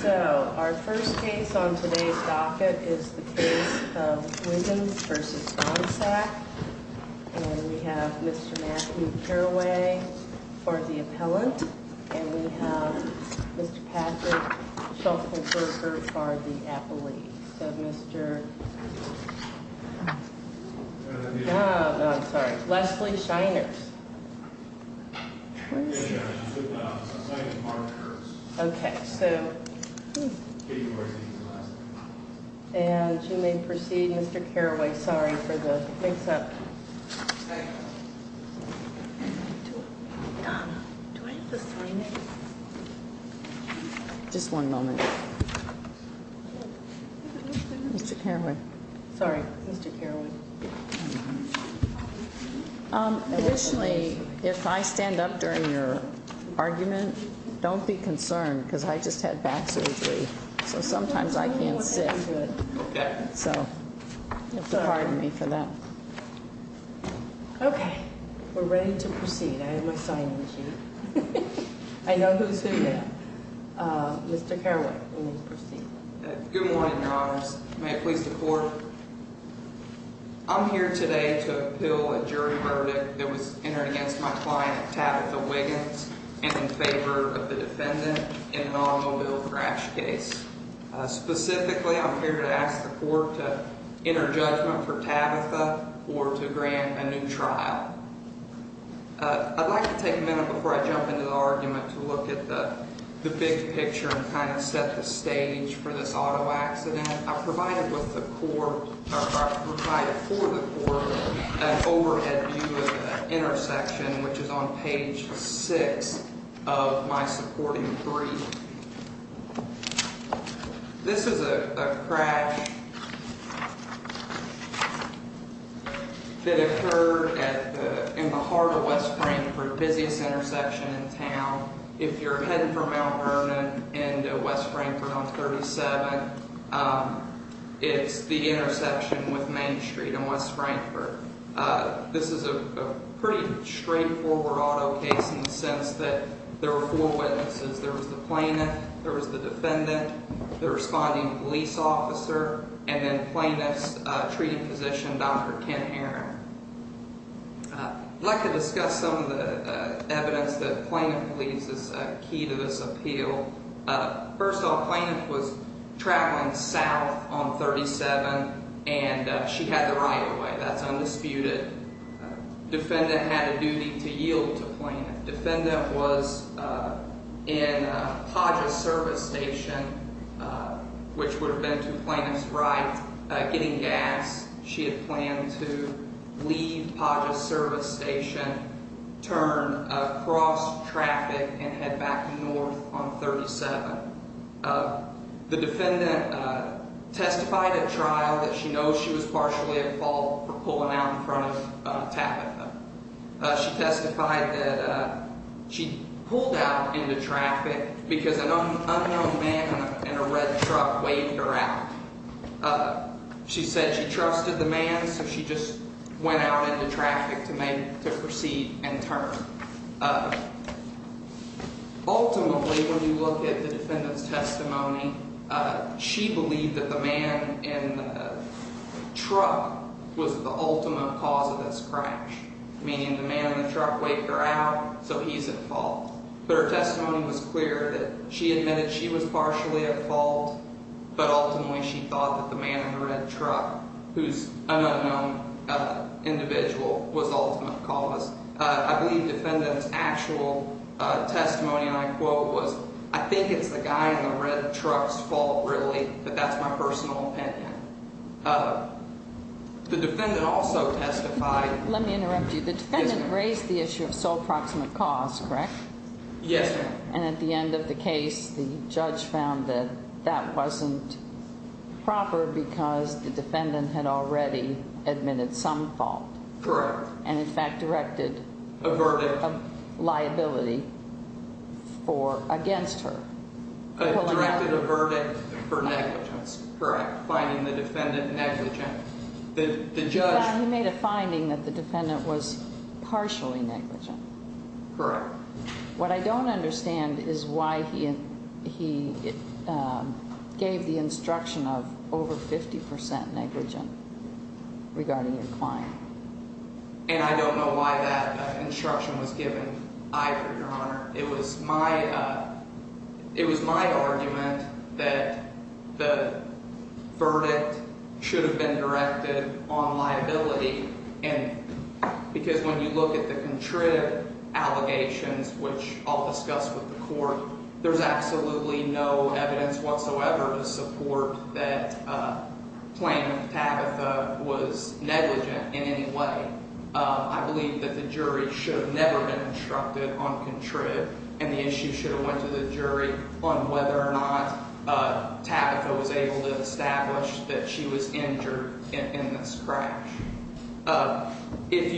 So, our first case on today's docket is the case of Wiggins v. Bonsack. And we have Mr. Matthew Carraway for the appellant. And we have Mr. Patrick Shulkinberger for the appellee. So, Mr. Oh, I'm sorry. Leslie Shiner. Okay, so. And you may proceed, Mr. Carraway. Sorry for the mix up. Just one moment. Mr. Carraway. Sorry, Mr. Carraway. Additionally, if I stand up during your argument, don't be concerned because I just had back surgery. So, sometimes I can't sit. So, pardon me for that. Okay, we're ready to proceed. I have my signing sheet. I know who's who now. Mr. Carraway, you may proceed. Good morning, Your Honors. May it please the Court. I'm here today to appeal a jury verdict that was entered against my client, Tabitha Wiggins, and in favor of the defendant in an automobile crash case. Specifically, I'm here to ask the Court to enter judgment for Tabitha or to grant a new trial. I'd like to take a minute before I jump into the argument to look at the big picture and kind of set the stage for this auto accident. I provided for the Court an overhead view of the intersection, which is on page 6 of my supporting brief. This is a crash that occurred in the heart of West Frankfort, busiest intersection in town. If you're heading for Mount Vernon and West Frankfort on 37, it's the intersection with Main Street and West Frankfort. This is a pretty straightforward auto case in the sense that there were four witnesses. There was the plaintiff, there was the defendant, the responding police officer, and then plaintiff's treating physician, Dr. Kent Heron. I'd like to discuss some of the evidence that plaintiff believes is key to this appeal. First off, plaintiff was traveling south on 37, and she had the right of way. That's undisputed. Defendant had a duty to yield to plaintiff. Defendant was in Padra service station, which would have been to plaintiff's right, getting gas. She had planned to leave Padra service station, turn across traffic, and head back north on 37. The defendant testified at trial that she knows she was partially at fault for pulling out in front and tapping them. She testified that she pulled out into traffic because an unknown man in a red truck waved her out. She said she trusted the man, so she just went out into traffic to proceed and turn. Ultimately, when you look at the defendant's testimony, she believed that the man in the truck was the ultimate cause of this crash, meaning the man in the truck waved her out, so he's at fault. But her testimony was clear that she admitted she was partially at fault, but ultimately she thought that the man in the red truck, who's an unknown individual, was the ultimate cause. I believe defendant's actual testimony, and I quote, was, I think it's the guy in the red truck's fault, really, but that's my personal opinion. The defendant also testified... Yes, ma'am. And at the end of the case, the judge found that that wasn't proper because the defendant had already admitted some fault. Correct. And, in fact, directed a verdict of liability against her. Directed a verdict for negligence. Correct. Finding the defendant negligent. The judge... He made a finding that the defendant was partially negligent. Correct. What I don't understand is why he gave the instruction of over 50% negligent regarding your client. And I don't know why that instruction was given. I, for your honor, it was my argument that the verdict should have been directed on liability, because when you look at the contrived allegations, which I'll discuss with the court, there's absolutely no evidence whatsoever to support that claim that Tabitha was negligent in any way. I believe that the jury should have never been instructed on contrived, and the issue should have went to the jury on whether or not Tabitha was able to establish that she was injured in this crash. If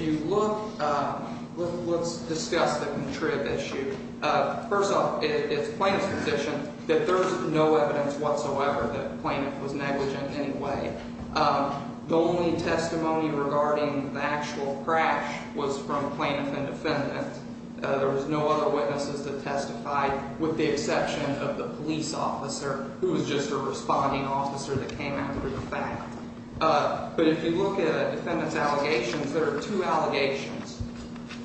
you look... Let's discuss the contrived issue. First off, it's plaintiff's position that there's no evidence whatsoever that the plaintiff was negligent in any way. The only testimony regarding the actual crash was from plaintiff and defendant. There was no other witnesses that testified with the exception of the police officer, who was just a responding officer that came after the fact. But if you look at a defendant's allegations, there are two allegations.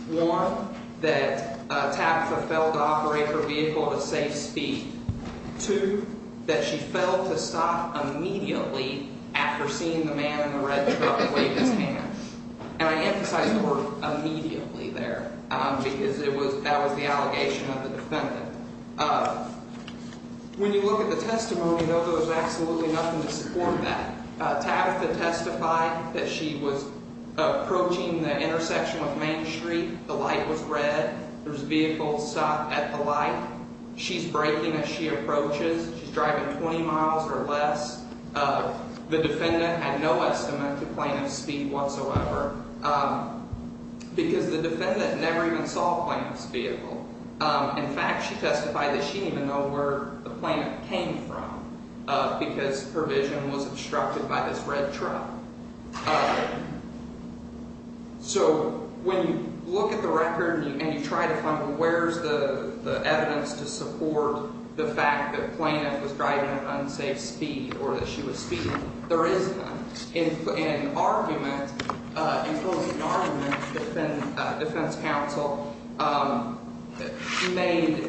One, that Tabitha failed to operate her vehicle to safe speed. Two, that she failed to stop immediately after seeing the man in the red truck wave his hand. And I emphasize the word immediately there, because that was the allegation of the defendant. When you look at the testimony, though, there was absolutely nothing to support that. Tabitha testified that she was approaching the intersection with Main Street. The light was red. There was a vehicle stopped at the light. She's braking as she approaches. She's driving 20 miles or less. The defendant had no estimate to plaintiff's speed whatsoever, because the defendant never even saw a plaintiff's vehicle. In fact, she testified that she didn't even know where the plaintiff came from, because her vision was obstructed by this red truck. So when you look at the record and you try to find where's the evidence to support the fact that plaintiff was driving at unsafe speed or that she was speeding, there is none. In closing argument, the defense counsel made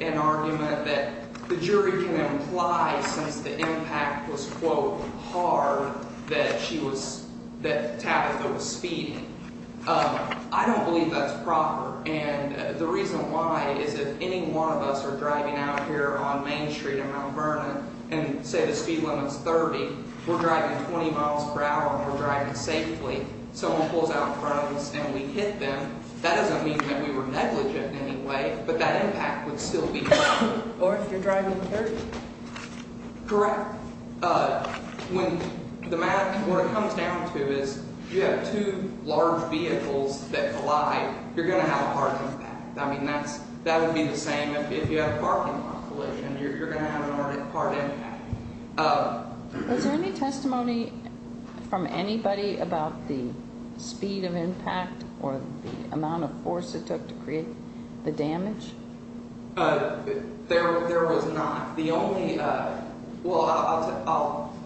an argument that the jury can imply, since the impact was, quote, hard, that Tabitha was speeding. I don't believe that's proper. And the reason why is if any one of us are driving out here on Main Street in Mount Vernon and, say, the speed limit's 30, we're driving 20 miles per hour and we're driving safely. Someone pulls out in front of us and we hit them. That doesn't mean that we were negligent in any way, but that impact would still be there. Or if you're driving 30. Correct. What it comes down to is if you have two large vehicles that collide, you're going to have a hard impact. I mean, that would be the same if you had a parking lot collision. You're going to have a hard impact. Was there any testimony from anybody about the speed of impact or the amount of force it took to create the damage? There was not. The only ‑‑ well, I'll ‑‑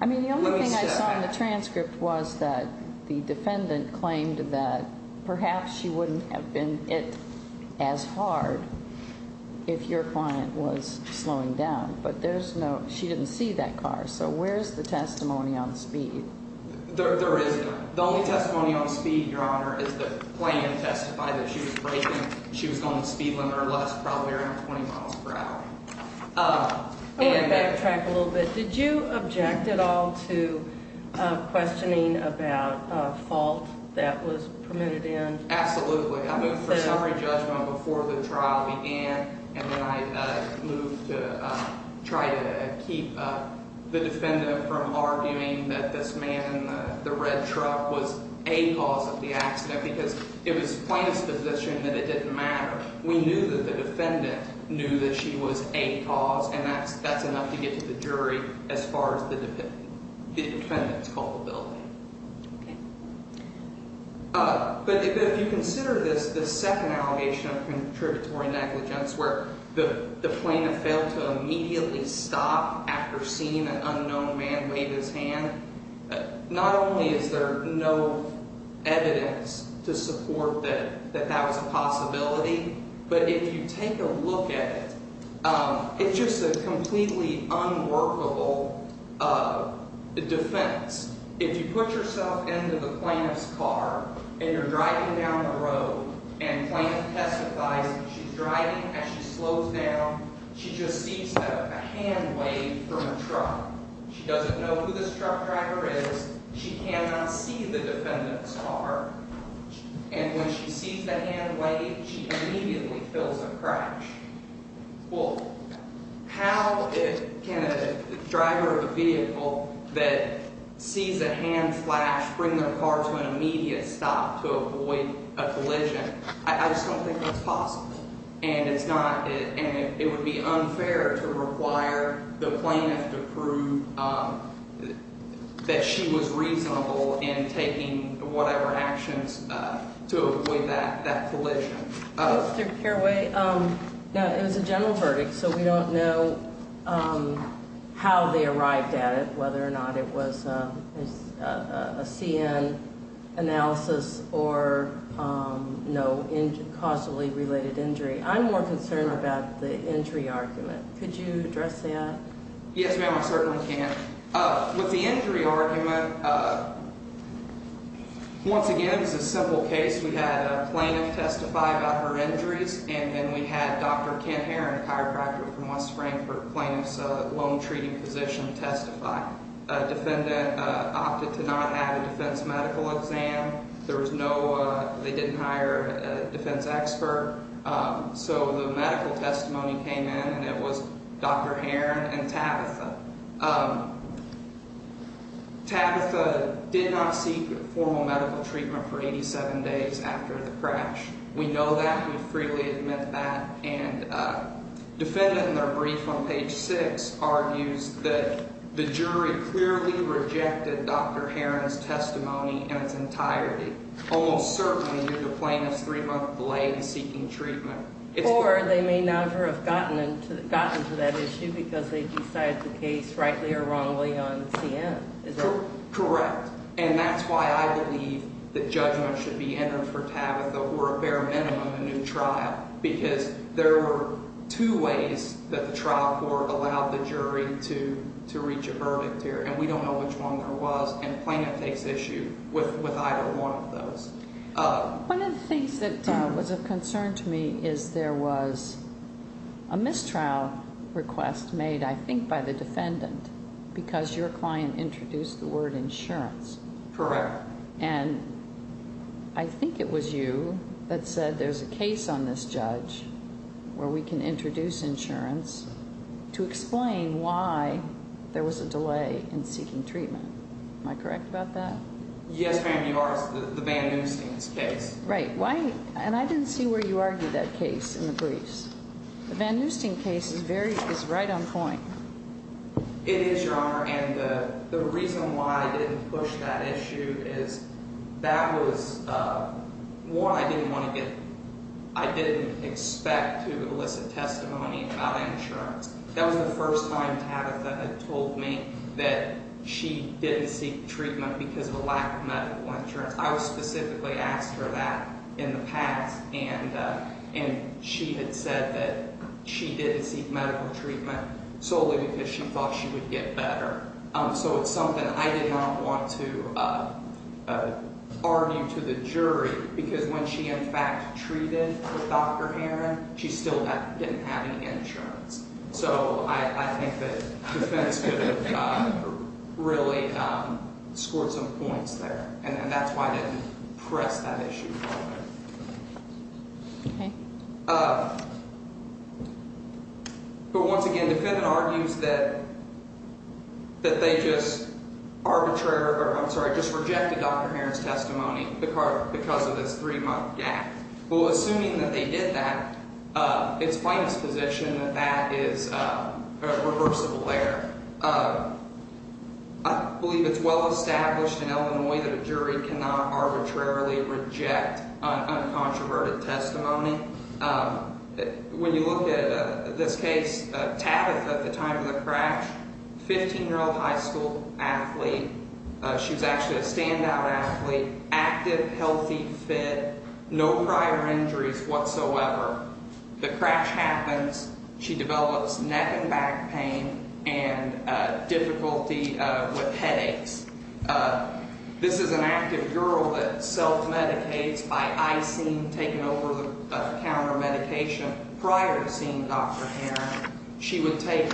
I mean, the only thing I saw in the transcript was that the defendant claimed that perhaps she wouldn't have been hit as hard if your client was slowing down. But there's no ‑‑ she didn't see that car. So where's the testimony on speed? There is none. The only testimony on speed, Your Honor, is that the client testified that she was breaking. She was going to speed limit or less, probably around 20 miles per hour. I want to backtrack a little bit. Did you object at all to questioning about a fault that was permitted in? Absolutely. I moved for summary judgment before the trial began. And then I moved to try to keep the defendant from arguing that this man in the red truck was a cause of the accident because it was the plaintiff's position that it didn't matter. We knew that the defendant knew that she was a cause, and that's enough to get to the jury as far as the defendant's culpability. Okay. But if you consider this second allegation of contributory negligence where the plaintiff failed to immediately stop after seeing an unknown man wave his hand, not only is there no evidence to support that that was a possibility, but if you take a look at it, it's just a completely unworkable defense. If you put yourself into the plaintiff's car and you're driving down the road and the plaintiff testifies that she's driving as she slows down, she just sees a hand wave from a truck. She doesn't know who this truck driver is. She cannot see the defendant's car. And when she sees the hand wave, she immediately feels a crash. Well, how can a driver of a vehicle that sees a hand flash bring their car to an immediate stop to avoid a collision? I just don't think that's possible, and it's not – and it would be unfair to require the plaintiff to prove that she was reasonable in taking whatever actions to avoid that collision. Mr. Carraway, it was a general verdict, so we don't know how they arrived at it, whether or not it was a CN analysis or no causally related injury. I'm more concerned about the injury argument. Could you address that? Yes, ma'am, I certainly can. With the injury argument, once again, it was a simple case. We had a plaintiff testify about her injuries, and then we had Dr. Kent Heron, a chiropractor from West Frankfort, plaintiff's lone treating physician, testify. A defendant opted to not have a defense medical exam. There was no – they didn't hire a defense expert. So the medical testimony came in, and it was Dr. Heron and Tabitha. Tabitha did not seek formal medical treatment for 87 days after the crash. We know that. We freely admit that. And the defendant in their brief on page 6 argues that the jury clearly rejected Dr. Heron's testimony in its entirety, almost certainly due to the plaintiff's three-month delay in seeking treatment. Or they may never have gotten to that issue because they decided the case rightly or wrongly on CN. Is that correct? Correct. And that's why I believe that judgment should be entered for Tabitha or a bare minimum a new trial because there were two ways that the trial court allowed the jury to reach a verdict here. And we don't know which one there was. One of the things that was of concern to me is there was a mistrial request made, I think, by the defendant because your client introduced the word insurance. Correct. And I think it was you that said there's a case on this judge where we can introduce insurance to explain why there was a delay in seeking treatment. Am I correct about that? Yes, ma'am, you are. It's the Van Neusten case. Right. And I didn't see where you argued that case in the briefs. The Van Neusten case is right on point. It is, Your Honor. And the reason why I didn't push that issue is that was one I didn't want to get – I didn't expect to elicit testimony about insurance. That was the first time Tabitha had told me that she didn't seek treatment because of a lack of medical insurance. I specifically asked her that in the past, and she had said that she didn't seek medical treatment solely because she thought she would get better. So it's something I did not want to argue to the jury because when she, in fact, treated Dr. Heron, she still didn't have any insurance. So I think that the defense could have really scored some points there, and that's why I didn't press that issue. Okay. But once again, the defendant argues that they just arbitrarily – I'm sorry – just rejected Dr. Heron's testimony because of this three-month gap. Well, assuming that they did that, it's plain exposition that that is a reversible error. I believe it's well established in Illinois that a jury cannot arbitrarily reject uncontroverted testimony. When you look at this case, Tabitha at the time of the crash, 15-year-old high school athlete. She was actually a standout athlete, active, healthy, fit, no prior injuries whatsoever. The crash happens. She develops neck and back pain and difficulty with headaches. This is an active girl that self-medicates by icing, taking over-the-counter medication. Prior to seeing Dr. Heron, she would take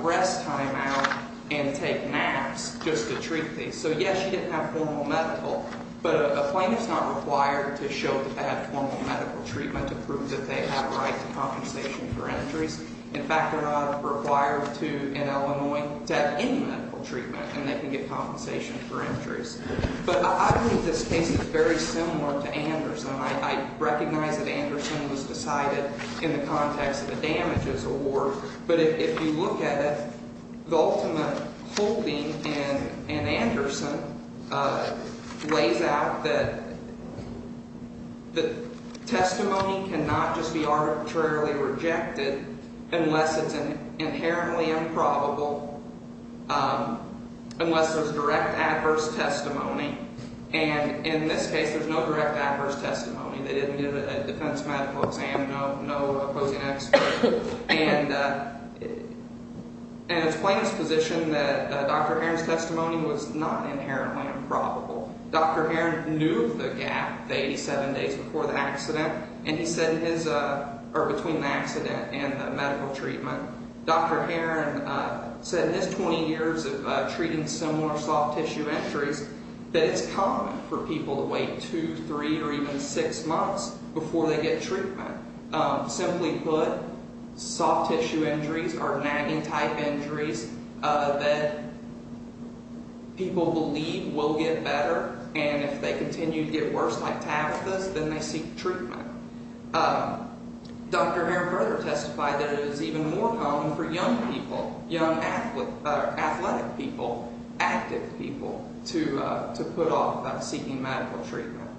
rest time out and take naps just to treat these. So, yes, she didn't have formal medical, but a plaintiff's not required to show that they have formal medical treatment to prove that they have a right to compensation for injuries. In fact, they're not required to, in Illinois, to have any medical treatment and they can get compensation for injuries. But I believe this case is very similar to Anderson. I recognize that Anderson was decided in the context of the damages award. But if you look at it, the ultimate holding in Anderson lays out that testimony cannot just be arbitrarily rejected unless it's inherently improbable, unless there's direct adverse testimony. And in this case, there's no direct adverse testimony. They didn't give a defense medical exam, no opposing expert. And it's plaintiff's position that Dr. Heron's testimony was not inherently improbable. Dr. Heron knew the gap, the 87 days before the accident, and he said in his – or between the accident and the medical treatment, Dr. Heron said in his 20 years of treating similar soft tissue injuries that it's common for people to wait two, three, or even six months before they get treatment. Simply put, soft tissue injuries are nagging type injuries that people believe will get better. And if they continue to get worse like Tabitha's, then they seek treatment. Dr. Heron further testified that it is even more common for young people, young athletic people, active people to put off seeking medical treatment.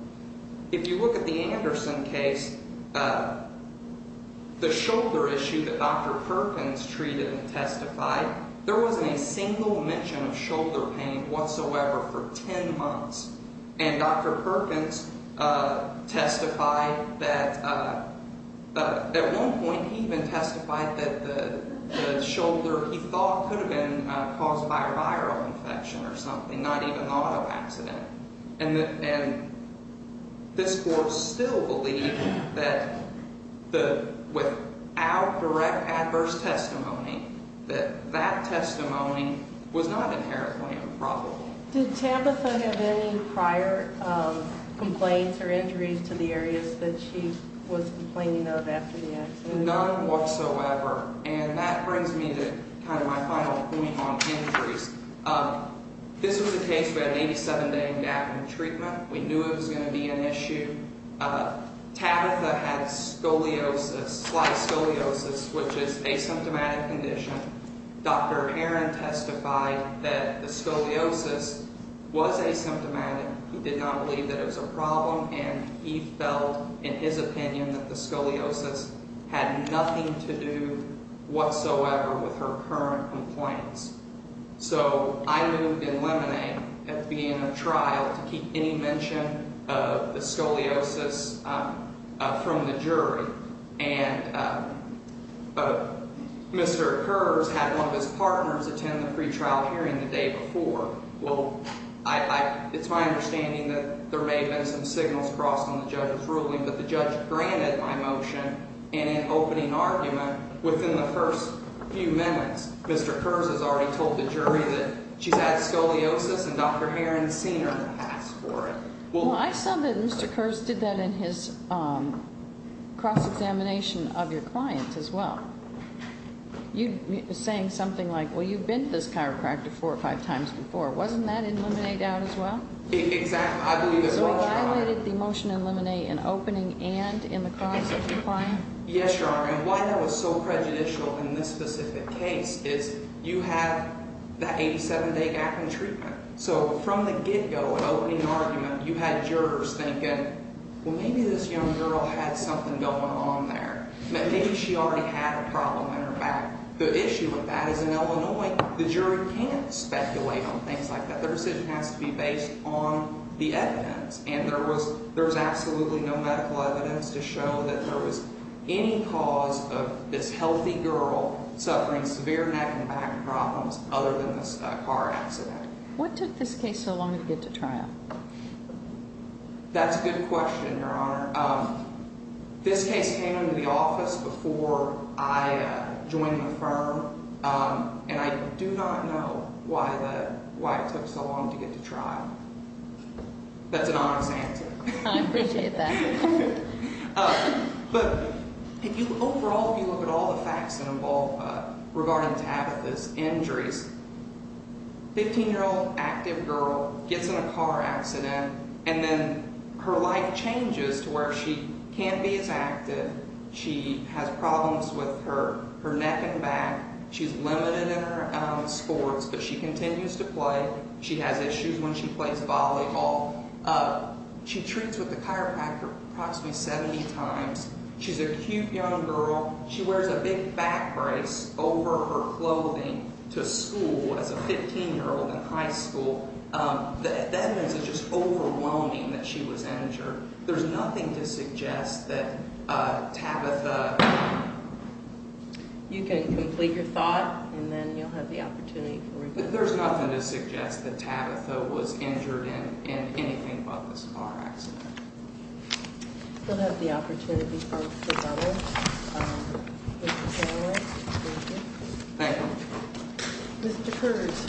If you look at the Anderson case, the shoulder issue that Dr. Perkins treated and testified, there wasn't a single mention of shoulder pain whatsoever for 10 months. And Dr. Perkins testified that at one point he even testified that the shoulder he thought could have been caused by a viral infection or something, not even an auto accident. And this court still believed that without direct adverse testimony, that that testimony was not inherently improbable. Did Tabitha have any prior complaints or injuries to the areas that she was complaining of after the accident? None whatsoever. And that brings me to kind of my final point on injuries. This was a case where an 87-day gap in treatment. We knew it was going to be an issue. Tabitha had scoliosis, slight scoliosis, which is asymptomatic condition. Dr. Heron testified that the scoliosis was asymptomatic. He did not believe that it was a problem, and he felt, in his opinion, that the scoliosis had nothing to do whatsoever with her current complaints. So I moved in limine at the beginning of trial to keep any mention of the scoliosis from the jury. And Mr. Kurz had one of his partners attend the pretrial hearing the day before. Well, it's my understanding that there may have been some signals crossed on the judge's ruling, but the judge granted my motion. And in opening argument, within the first few minutes, Mr. Kurz has already told the jury that she's had scoliosis and Dr. Heron's seen her pass for it. Well, I saw that Mr. Kurz did that in his cross-examination of your client as well. You were saying something like, well, you've been to this chiropractor four or five times before. Wasn't that in limine out as well? Exactly. I believe it was. So he violated the motion in limine in opening and in the cross-examination of your client? Yes, Your Honor. And why that was so prejudicial in this specific case is you have that 87-day gap in treatment. So from the get-go, in opening argument, you had jurors thinking, well, maybe this young girl had something going on there, that maybe she already had a problem in her back. The issue with that is in Illinois, the jury can't speculate on things like that. The decision has to be based on the evidence. And there was absolutely no medical evidence to show that there was any cause of this healthy girl suffering severe neck and back problems other than this car accident. What took this case so long to get to trial? That's a good question, Your Honor. This case came into the office before I joined the firm, and I do not know why it took so long to get to trial. That's an honest answer. I appreciate that. But overall, if you look at all the facts that involve regarding Tabitha's injuries, 15-year-old active girl gets in a car accident, and then her life changes to where she can't be as active. She has problems with her neck and back. She's limited in her sports, but she continues to play. She has issues when she plays volleyball. She treats with the chiropractor approximately 70 times. She's a cute young girl. She wears a big back brace over her clothing to school as a 15-year-old in high school. That means it's just overwhelming that she was injured. There's nothing to suggest that Tabitha… You can complete your thought, and then you'll have the opportunity for rebuttal. There's nothing to suggest that Tabitha was injured in anything but this car accident. We'll have the opportunity for rebuttal. Mr. Taylor, thank you. Thank you. Mr. Kurtz.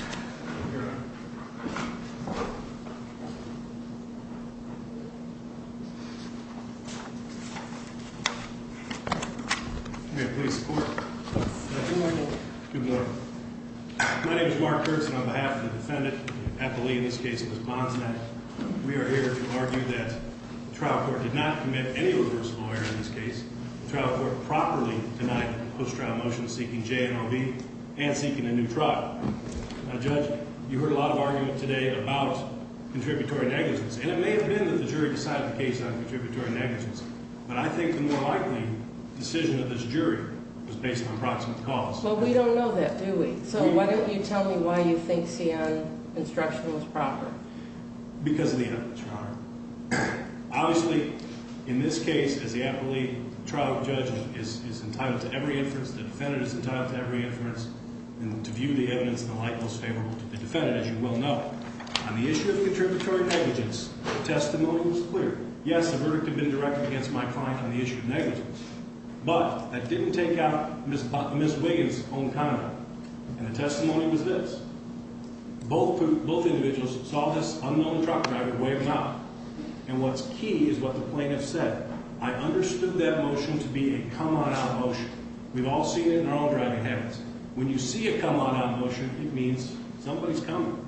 May I please report? Good morning. Good morning. My name is Mark Kurtz, and on behalf of the defendant, the appellee in this case, Ms. Bonsnett, we are here to argue that the trial court did not commit any rigorous lawyer in this case. The trial court properly denied the post-trial motion seeking JNRB and seeking a new trial. Now, Judge, you heard a lot of argument today about contributory negligence, and it may have been that the jury decided the case on contributory negligence, but I think the more likely decision of this jury was based on approximate cause. Well, we don't know that, do we? So why don't you tell me why you think C.N. instruction was proper? Because of the evidence, Your Honor. Obviously, in this case, as the appellee trial judge is entitled to every inference, the defendant is entitled to every inference, and to view the evidence in the light most favorable to the defendant, as you well know. On the issue of contributory negligence, the testimony was clear. Yes, the verdict had been directed against my client on the issue of negligence, but that didn't take out Ms. Wiggins' own comment, and the testimony was this. Both individuals saw this unknown truck driver waving out, and what's key is what the plaintiff said. I understood that motion to be a come-on-out motion. We've all seen it in our own driving habits. When you see a come-on-out motion, it means somebody's coming,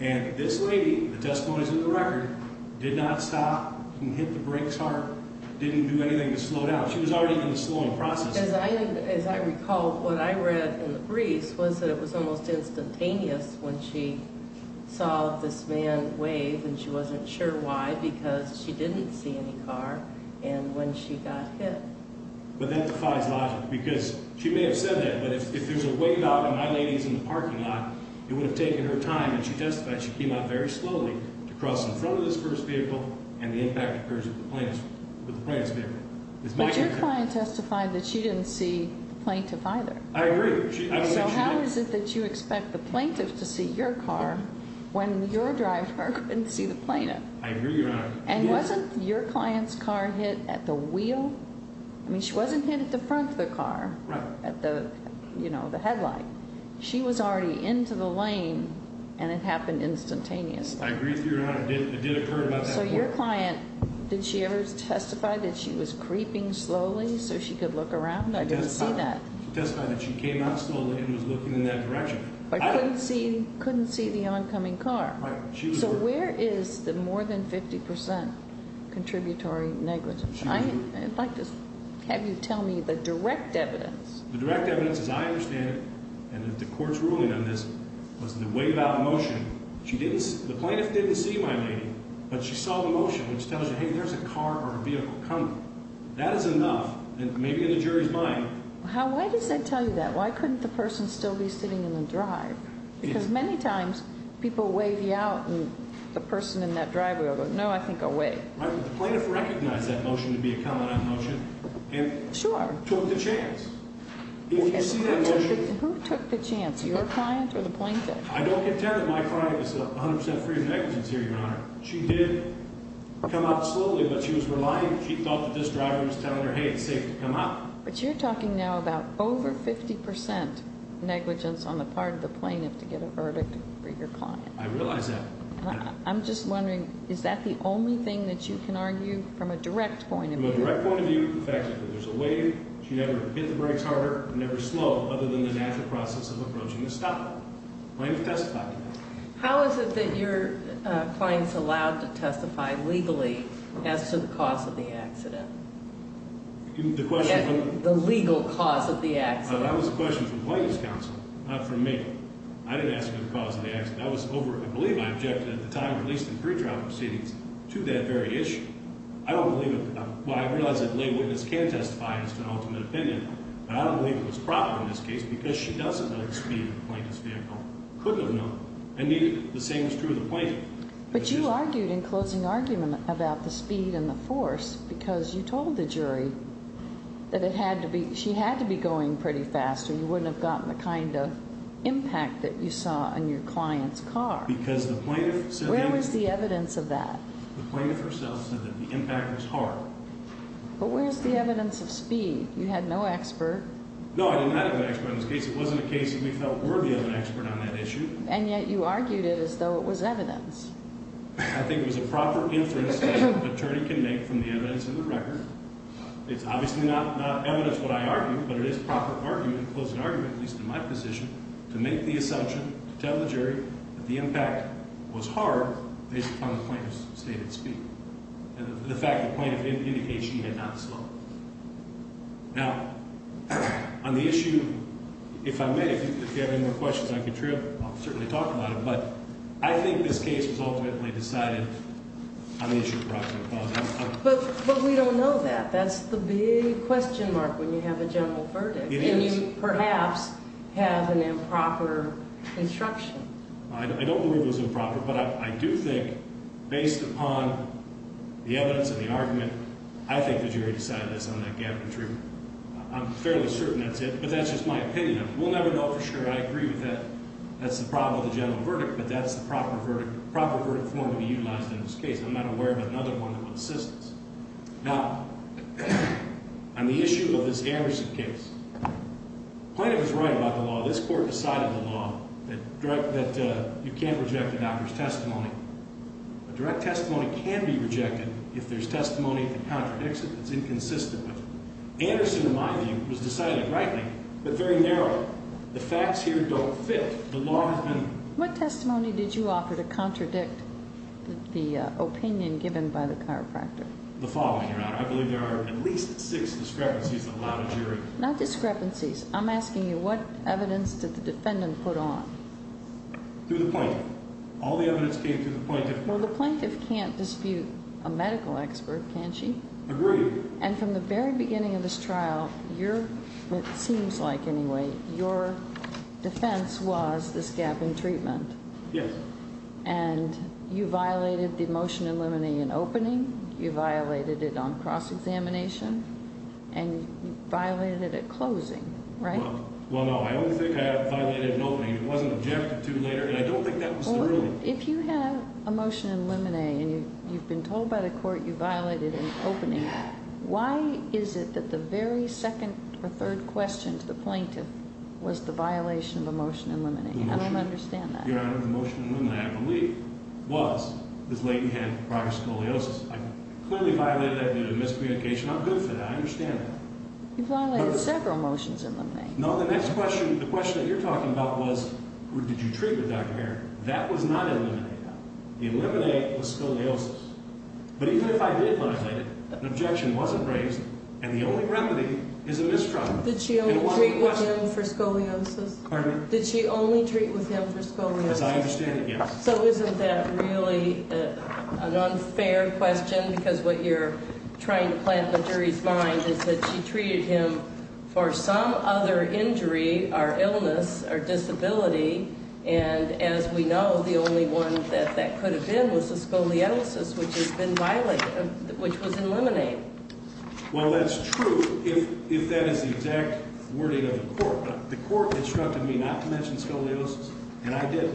and this lady, the testimony's in the record, did not stop, didn't hit the brakes hard, didn't do anything to slow down. She was already in the slowing process. As I recall, what I read in the briefs was that it was almost instantaneous when she saw this man wave, and she wasn't sure why because she didn't see any car, and when she got hit. But that defies logic because she may have said that, but if there's a wave out and my lady's in the parking lot, it would have taken her time, and she testified she came out very slowly to cross in front of this first vehicle, and the impact occurs with the plaintiff's vehicle. But your client testified that she didn't see the plaintiff either. I agree. So how is it that you expect the plaintiff to see your car when your driver couldn't see the plaintiff? I agree, Your Honor. And wasn't your client's car hit at the wheel? I mean, she wasn't hit at the front of the car, at the headlight. She was already into the lane, and it happened instantaneously. I agree with you, Your Honor. It did occur about that point. So your client, did she ever testify that she was creeping slowly so she could look around? I didn't see that. She testified that she came out slowly and was looking in that direction. But couldn't see the oncoming car. Right. So where is the more than 50% contributory negligence? I'd like to have you tell me the direct evidence. The direct evidence, as I understand it, and the court's ruling on this, was the wave out motion. The plaintiff didn't see my lady, but she saw the motion, which tells you, hey, there's a car or a vehicle coming. That is enough, maybe in the jury's mind. Why does that tell you that? Why couldn't the person still be sitting in the drive? Because many times people wave you out, and the person in that driveway will go, no, I think I'll wait. Right, but the plaintiff recognized that motion to be a comment on the motion. Sure. And took the chance. If you see that motion. Who took the chance, your client or the plaintiff? I don't contend that my client is 100% free of negligence here, Your Honor. She did come out slowly, but she was reliant. She thought that this driver was telling her, hey, it's safe to come out. But you're talking now about over 50% negligence on the part of the plaintiff to get a verdict for your client. I realize that. I'm just wondering, is that the only thing that you can argue from a direct point of view? From a direct point of view, in fact, there's a wave. She never hit the brakes harder, never slow, other than the natural process of approaching the stop. The plaintiff testified to that. How is it that your client's allowed to testify legally as to the cause of the accident? The question from? The legal cause of the accident. That was a question from the plaintiff's counsel, not from me. I didn't ask her the cause of the accident. I was over it. I believe I objected at the time, at least in pre-trial proceedings, to that very issue. I don't believe it. Well, I realize that a lay witness can testify as to an ultimate opinion, but I don't believe it was proper in this case because she doesn't know the speed of the plaintiff's vehicle. Couldn't have known. And neither, the same is true of the plaintiff. But you argued in closing argument about the speed and the force because you told the jury that it had to be, she had to be going pretty fast or you wouldn't have gotten the kind of impact that you saw on your client's car. Because the plaintiff said. Where was the evidence of that? The plaintiff herself said that the impact was hard. But where's the evidence of speed? You had no expert. No, I did not have an expert on this case. It wasn't a case that we felt worthy of an expert on that issue. And yet you argued it as though it was evidence. I think it was a proper inference that an attorney can make from the evidence in the record. It's obviously not evidence what I argued, but it is proper argument, closing argument, at least in my position, to make the assumption, to tell the jury that the impact was hard based upon the plaintiff's stated speed. And the fact the plaintiff indicated she had not slowed. Now, on the issue, if I may, if you have any more questions, I can certainly talk about it. But I think this case was ultimately decided on the issue of proximate cause. But we don't know that. That's the big question mark when you have a general verdict. It is. And you perhaps have an improper instruction. I don't believe it was improper, but I do think based upon the evidence and the argument, I think the jury decided this on that gap in truth. I'm fairly certain that's it, but that's just my opinion. We'll never know for sure. I agree with that. That's the problem with the general verdict, but that's the proper verdict form to be utilized in this case. I'm not aware of another one that would assist us. Now, on the issue of this Harrison case, the plaintiff is right about the law. This court decided the law that you can't reject a doctor's testimony. A direct testimony can be rejected if there's testimony that contradicts it, that's inconsistent with it. Anderson, in my view, was decided rightly, but very narrowly. The facts here don't fit. The law has been. What testimony did you offer to contradict the opinion given by the chiropractor? The following, Your Honor. I believe there are at least six discrepancies that allowed a jury. Not discrepancies. I'm asking you what evidence did the defendant put on? Through the plaintiff. All the evidence came through the plaintiff. Well, the plaintiff can't dispute a medical expert, can she? Agreed. And from the very beginning of this trial, you're, it seems like anyway, your defense was this gap in treatment. Yes. And you violated the motion eliminating an opening, you violated it on cross-examination, and you violated it at closing, right? Well, no. I only think I violated an opening. It wasn't objected to later, and I don't think that was the ruling. Well, if you have a motion eliminate and you've been told by the court you violated an opening, why is it that the very second or third question to the plaintiff was the violation of a motion eliminating? I don't understand that. Your Honor, the motion eliminating, I believe, was this lady had prior scoliosis. I clearly violated that due to miscommunication. I'm good for that. I understand that. You violated several motions eliminating. No, the next question, the question that you're talking about was did you treat with Dr. Aaron? That was not eliminate. Eliminate was scoliosis. But even if I did violate it, an objection wasn't raised, and the only remedy is a mistrial. Did she only treat with him for scoliosis? Pardon me? Did she only treat with him for scoliosis? As I understand it, yes. So isn't that really an unfair question? Because what you're trying to plant in the jury's mind is that she treated him for some other injury or illness or disability, and as we know, the only one that that could have been was the scoliosis, which has been violated, which was eliminate. Well, that's true if that is the exact wording of the court. The court instructed me not to mention scoliosis, and I did.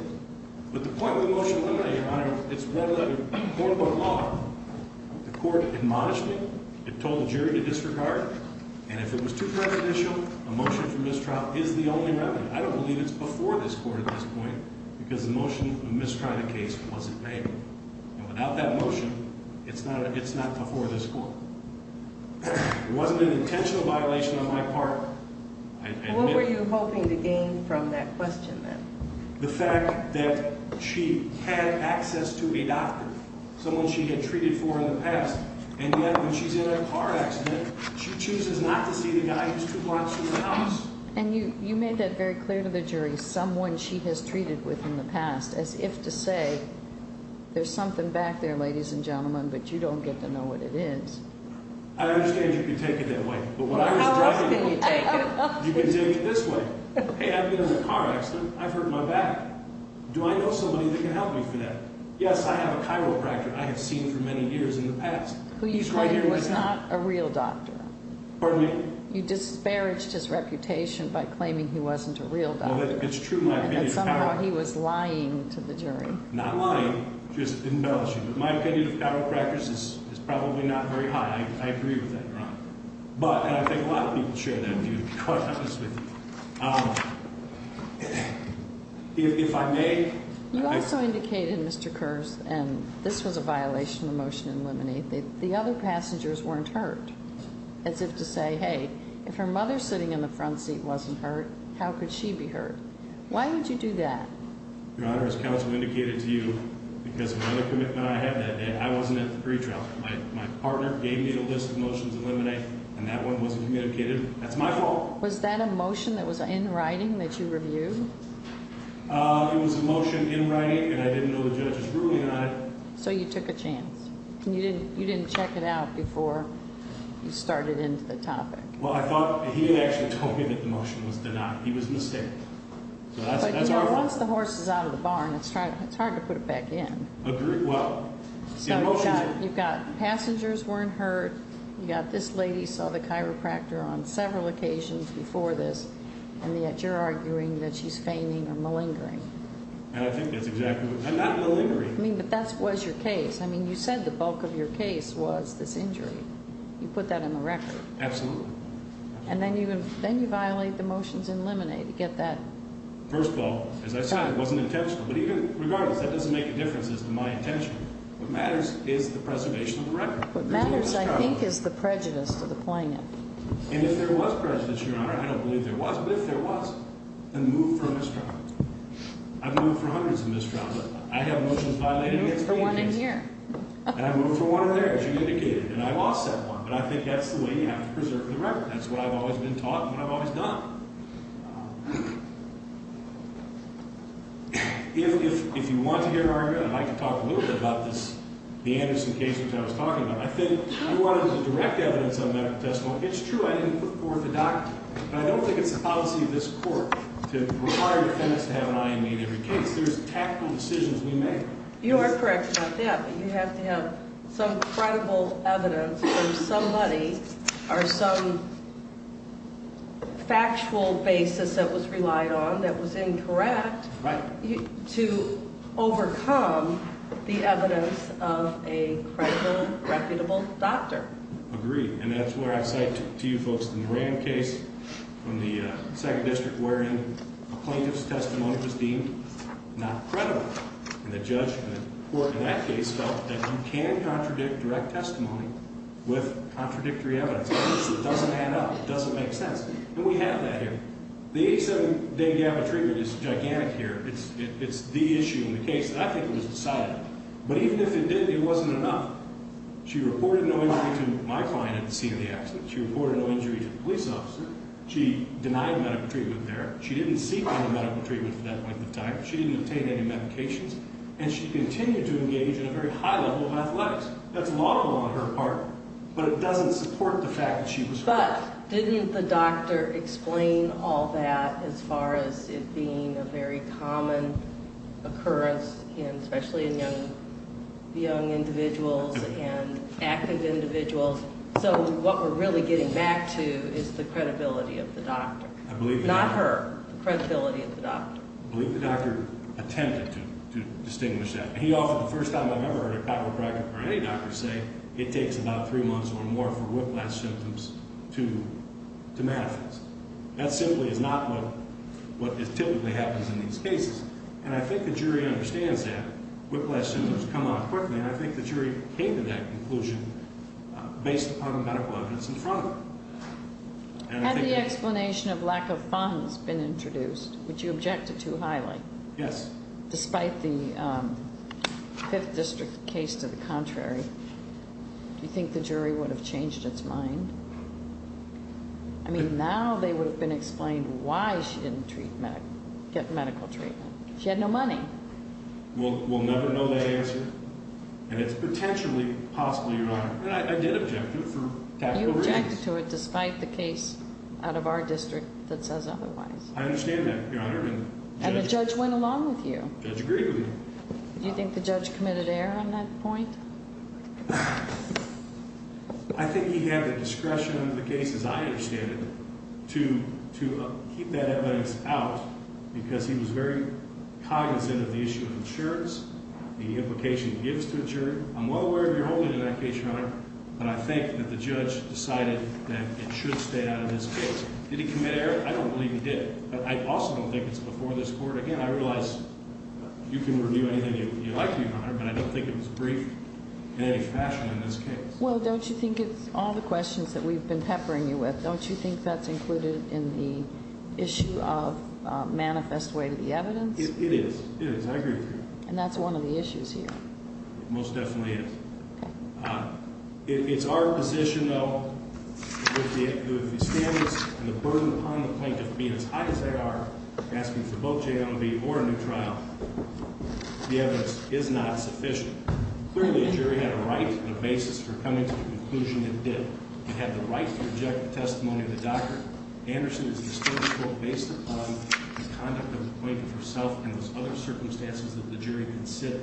But the point of the motion eliminate, Your Honor, it's one-letter court of law. The court admonished me. It told the jury to disregard, and if it was too prejudicial, a motion for mistrial is the only remedy. I don't believe it's before this court at this point because the motion to mistrial the case wasn't made. And without that motion, it's not before this court. It wasn't an intentional violation on my part. What were you hoping to gain from that question, then? The fact that she had access to a doctor, someone she had treated for in the past, and yet when she's in a car accident, she chooses not to see the guy who's two blocks from the house. And you made that very clear to the jury, someone she has treated with in the past, as if to say, there's something back there, ladies and gentlemen, but you don't get to know what it is. I understand you can take it that way, but when I was driving you, you could take it this way. Hey, I've been in a car accident. I've hurt my back. Do I know somebody that can help me for that? Yes, I have a chiropractor I have seen for many years in the past. Who you claim was not a real doctor. Pardon me? You disparaged his reputation by claiming he wasn't a real doctor. Well, it's true. And yet somehow he was lying to the jury. Not lying, just embellishing. I agree with that, Your Honor. But, and I think a lot of people share that view, quite honestly. If I may. You also indicated, Mr. Kurz, and this was a violation of the motion to eliminate, that the other passengers weren't hurt. As if to say, hey, if her mother sitting in the front seat wasn't hurt, how could she be hurt? Why would you do that? Your Honor, as counsel indicated to you, because of another commitment I had that day, I wasn't at the pretrial. My partner gave me a list of motions to eliminate, and that one wasn't communicated. That's my fault. Was that a motion that was in writing that you reviewed? It was a motion in writing, and I didn't know the judge was ruling on it. So you took a chance. You didn't check it out before you started into the topic. Well, I thought, he actually told me that the motion was denied. He was mistaken. But, you know, once the horse is out of the barn, it's hard to put it back in. So you've got passengers weren't hurt. You've got this lady saw the chiropractor on several occasions before this, and yet you're arguing that she's feigning or malingering. And I think that's exactly what, not malingering. I mean, but that was your case. I mean, you said the bulk of your case was this injury. You put that in the record. Absolutely. And then you violate the motions in limine to get that. First of all, as I said, it wasn't intentional. But even regardless, that doesn't make a difference as to my intention. What matters is the preservation of the record. What matters, I think, is the prejudice to the plaintiff. And if there was prejudice, Your Honor, I don't believe there was, but if there was, then move for a misdraft. I've moved for hundreds of misdrafts. I have motions violated against me. Move for one in here. And I moved for one in there, as you indicated. And I lost that one. But I think that's the way you have to preserve the record. That's what I've always been taught and what I've always done. If you want to hear an argument, I'd like to talk a little bit about this, the Anderson case, which I was talking about. I think you wanted direct evidence on medical testimony. It's true I didn't put forth a document. But I don't think it's the policy of this Court to require defendants to have an eye on me in every case. There's tactical decisions we make. You are correct about that. You have to have some credible evidence from somebody or some factual basis that was relied on, that was incorrect, to overcome the evidence of a credible, reputable doctor. Agreed. And that's where I cite to you folks the Moran case from the 2nd District, wherein a plaintiff's testimony was deemed not credible. And the judge in that case felt that you can contradict direct testimony with contradictory evidence. So it doesn't add up. It doesn't make sense. And we have that here. The 87-day gap of treatment is gigantic here. It's the issue in the case that I think was decided. But even if it didn't, it wasn't enough. She reported no injury to my client at the scene of the accident. She reported no injury to the police officer. She denied medical treatment there. She didn't seek any medical treatment for that length of time. She didn't obtain any medications. And she continued to engage in a very high level of athletics. That's laudable on her part, but it doesn't support the fact that she was hurt. But didn't the doctor explain all that as far as it being a very common occurrence, especially in young individuals and active individuals? So what we're really getting back to is the credibility of the doctor. Not her, the credibility of the doctor. I believe the doctor attempted to distinguish that. He offered the first time I've ever heard a chiropractor or any doctor say it takes about three months or more for whiplash symptoms to manifest. That simply is not what typically happens in these cases. And I think the jury understands that. Whiplash symptoms come on quickly, and I think the jury came to that conclusion based upon medical evidence in front of them. Had the explanation of lack of funds been introduced, which you objected to highly, despite the Fifth District case to the contrary, do you think the jury would have changed its mind? I mean, now they would have been explained why she didn't get medical treatment. She had no money. We'll never know that answer. And it's potentially possible, Your Honor. I did object to it for tactical reasons. You objected to it despite the case out of our district that says otherwise. I understand that, Your Honor. And the judge went along with you. The judge agreed with me. Do you think the judge committed error on that point? I think he had the discretion under the case, as I understand it, to keep that evidence out because he was very cognizant of the issue of insurance, the implication it gives to a jury. I'm well aware of your holding in that case, Your Honor, but I think that the judge decided that it should stay out of this case. Did he commit error? I don't believe he did. But I also don't think it's before this Court. Again, I realize you can review anything you like, Your Honor, but I don't think it was brief in any fashion in this case. Well, don't you think it's all the questions that we've been peppering you with. Don't you think that's included in the issue of manifest way to the evidence? It is. It is. I agree with you. And that's one of the issues here. It most definitely is. It's our position, though, that if the standards and the burden upon the plaintiff being as high as they are, asking for both JLMB or a new trial, the evidence is not sufficient. Clearly, the jury had a right and a basis for coming to the conclusion it did. It had the right to reject the testimony of the doctor. Anderson is a distorted court based upon the conduct of the plaintiff herself and those other circumstances that the jury could sit.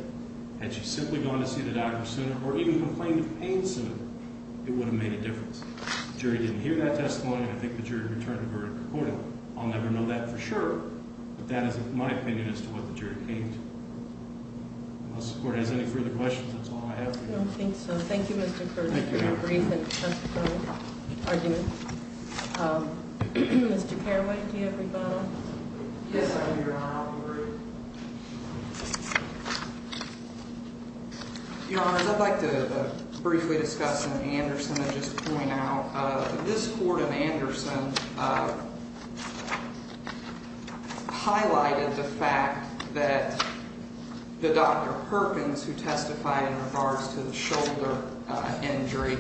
Had she simply gone to see the doctor sooner or even complained of pain sooner, it would have made a difference. The jury didn't hear that testimony, and I think the jury returned the verdict accordingly. I'll never know that for sure, but that is my opinion as to what the jury came to. Unless the Court has any further questions, that's all I have. I don't think so. Thank you, Mr. Kurtz, for your brief and testifying argument. Mr. Carraway, do you have rebuttal? Yes, I do, Your Honor. I'll read. Your Honor, I'd like to briefly discuss something Anderson had just pointed out. This court in Anderson highlighted the fact that the Dr. Perkins who testified in regards to the shoulder injury,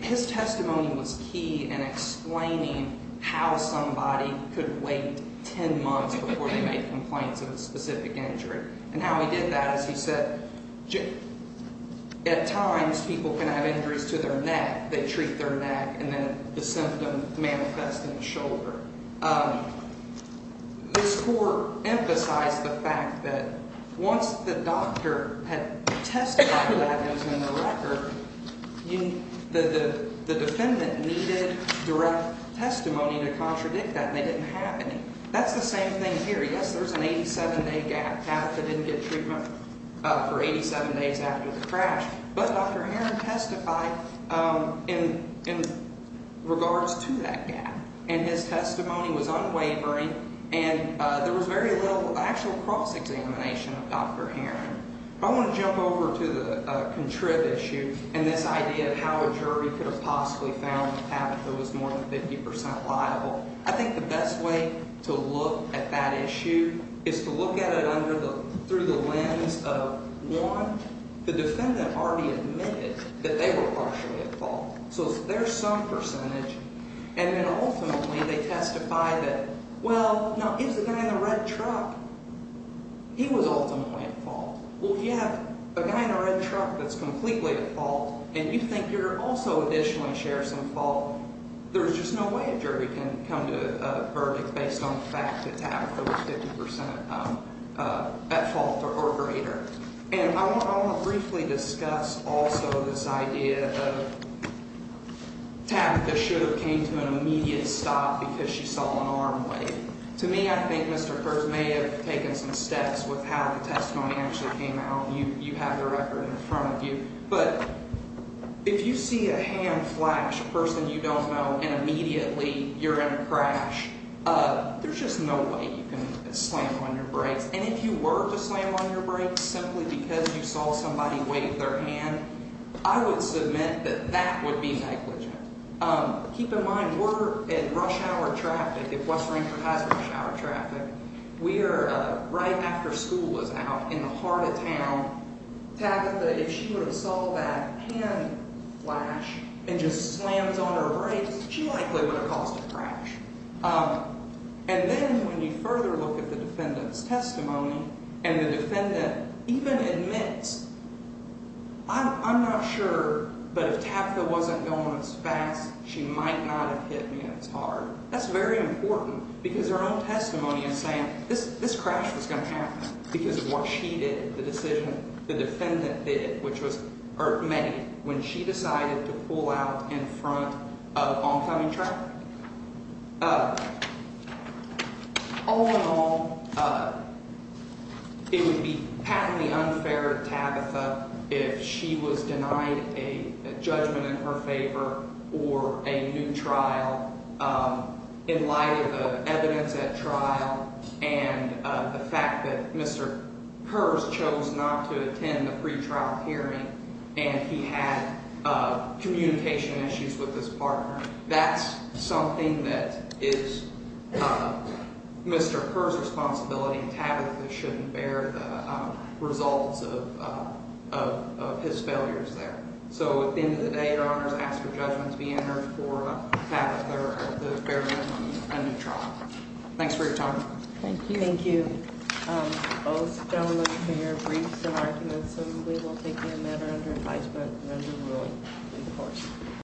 his testimony was key in explaining how somebody could wait 10 months before they made complaints of a specific injury. And how he did that is he said, at times people can have injuries to their neck. They treat their neck and then the symptom manifests in the shoulder. This court emphasized the fact that once the doctor had testified that it was in the record, the defendant needed direct testimony to contradict that, and they didn't have any. That's the same thing here. Yes, there's an 87-day gap. Tabitha didn't get treatment for 87 days after the crash, but Dr. Heron testified in regards to that gap. And his testimony was unwavering, and there was very little actual cross-examination of Dr. Heron. I want to jump over to the contrib issue and this idea of how a jury could have possibly found Tabitha was more than 50% liable. I think the best way to look at that issue is to look at it through the lens of, one, the defendant already admitted that they were partially at fault, so there's some percentage. And then ultimately they testify that, well, now, is the guy in the red truck? He was ultimately at fault. Well, if you have a guy in a red truck that's completely at fault and you think you're also additionally shares some fault, there's just no way a jury can come to a verdict based on the fact that Tabitha was 50% at fault or greater. And I want to briefly discuss also this idea of Tabitha should have came to an immediate stop because she saw an arm wave. To me, I think Mr. Kurz may have taken some steps with how the testimony actually came out. You have the record in front of you. But if you see a hand flash, a person you don't know, and immediately you're in a crash, there's just no way you can slam on your brakes. And if you were to slam on your brakes simply because you saw somebody wave their hand, I would submit that that would be negligent. Keep in mind, we're at rush hour traffic. If West Rancor has rush hour traffic, we are right after school is out in the heart of town. Tabitha, if she would have saw that hand flash and just slammed on her brakes, she likely would have caused a crash. And then when you further look at the defendant's testimony and the defendant even admits, I'm not sure, but if Tabitha wasn't going as fast, she might not have hit me as hard. That's very important because her own testimony is saying this crash was going to happen because of what she did, the decision the defendant did, when she decided to pull out in front of oncoming traffic. All in all, it would be patently unfair to Tabitha if she was denied a judgment in her favor or a new trial in light of the evidence at trial and the fact that Mr. Pers chose not to attend the pre-trial hearing and he had communication issues with his partner. That's something that is Mr. Pers' responsibility. Tabitha shouldn't bear the results of his failures there. So at the end of the day, Your Honors, I ask for judgment to be entered for Tabitha to bear a new trial. Thanks for your time. Thank you. Thank you. Both gentlemen here briefed in argument, so we will take them under advisement and under rule in court.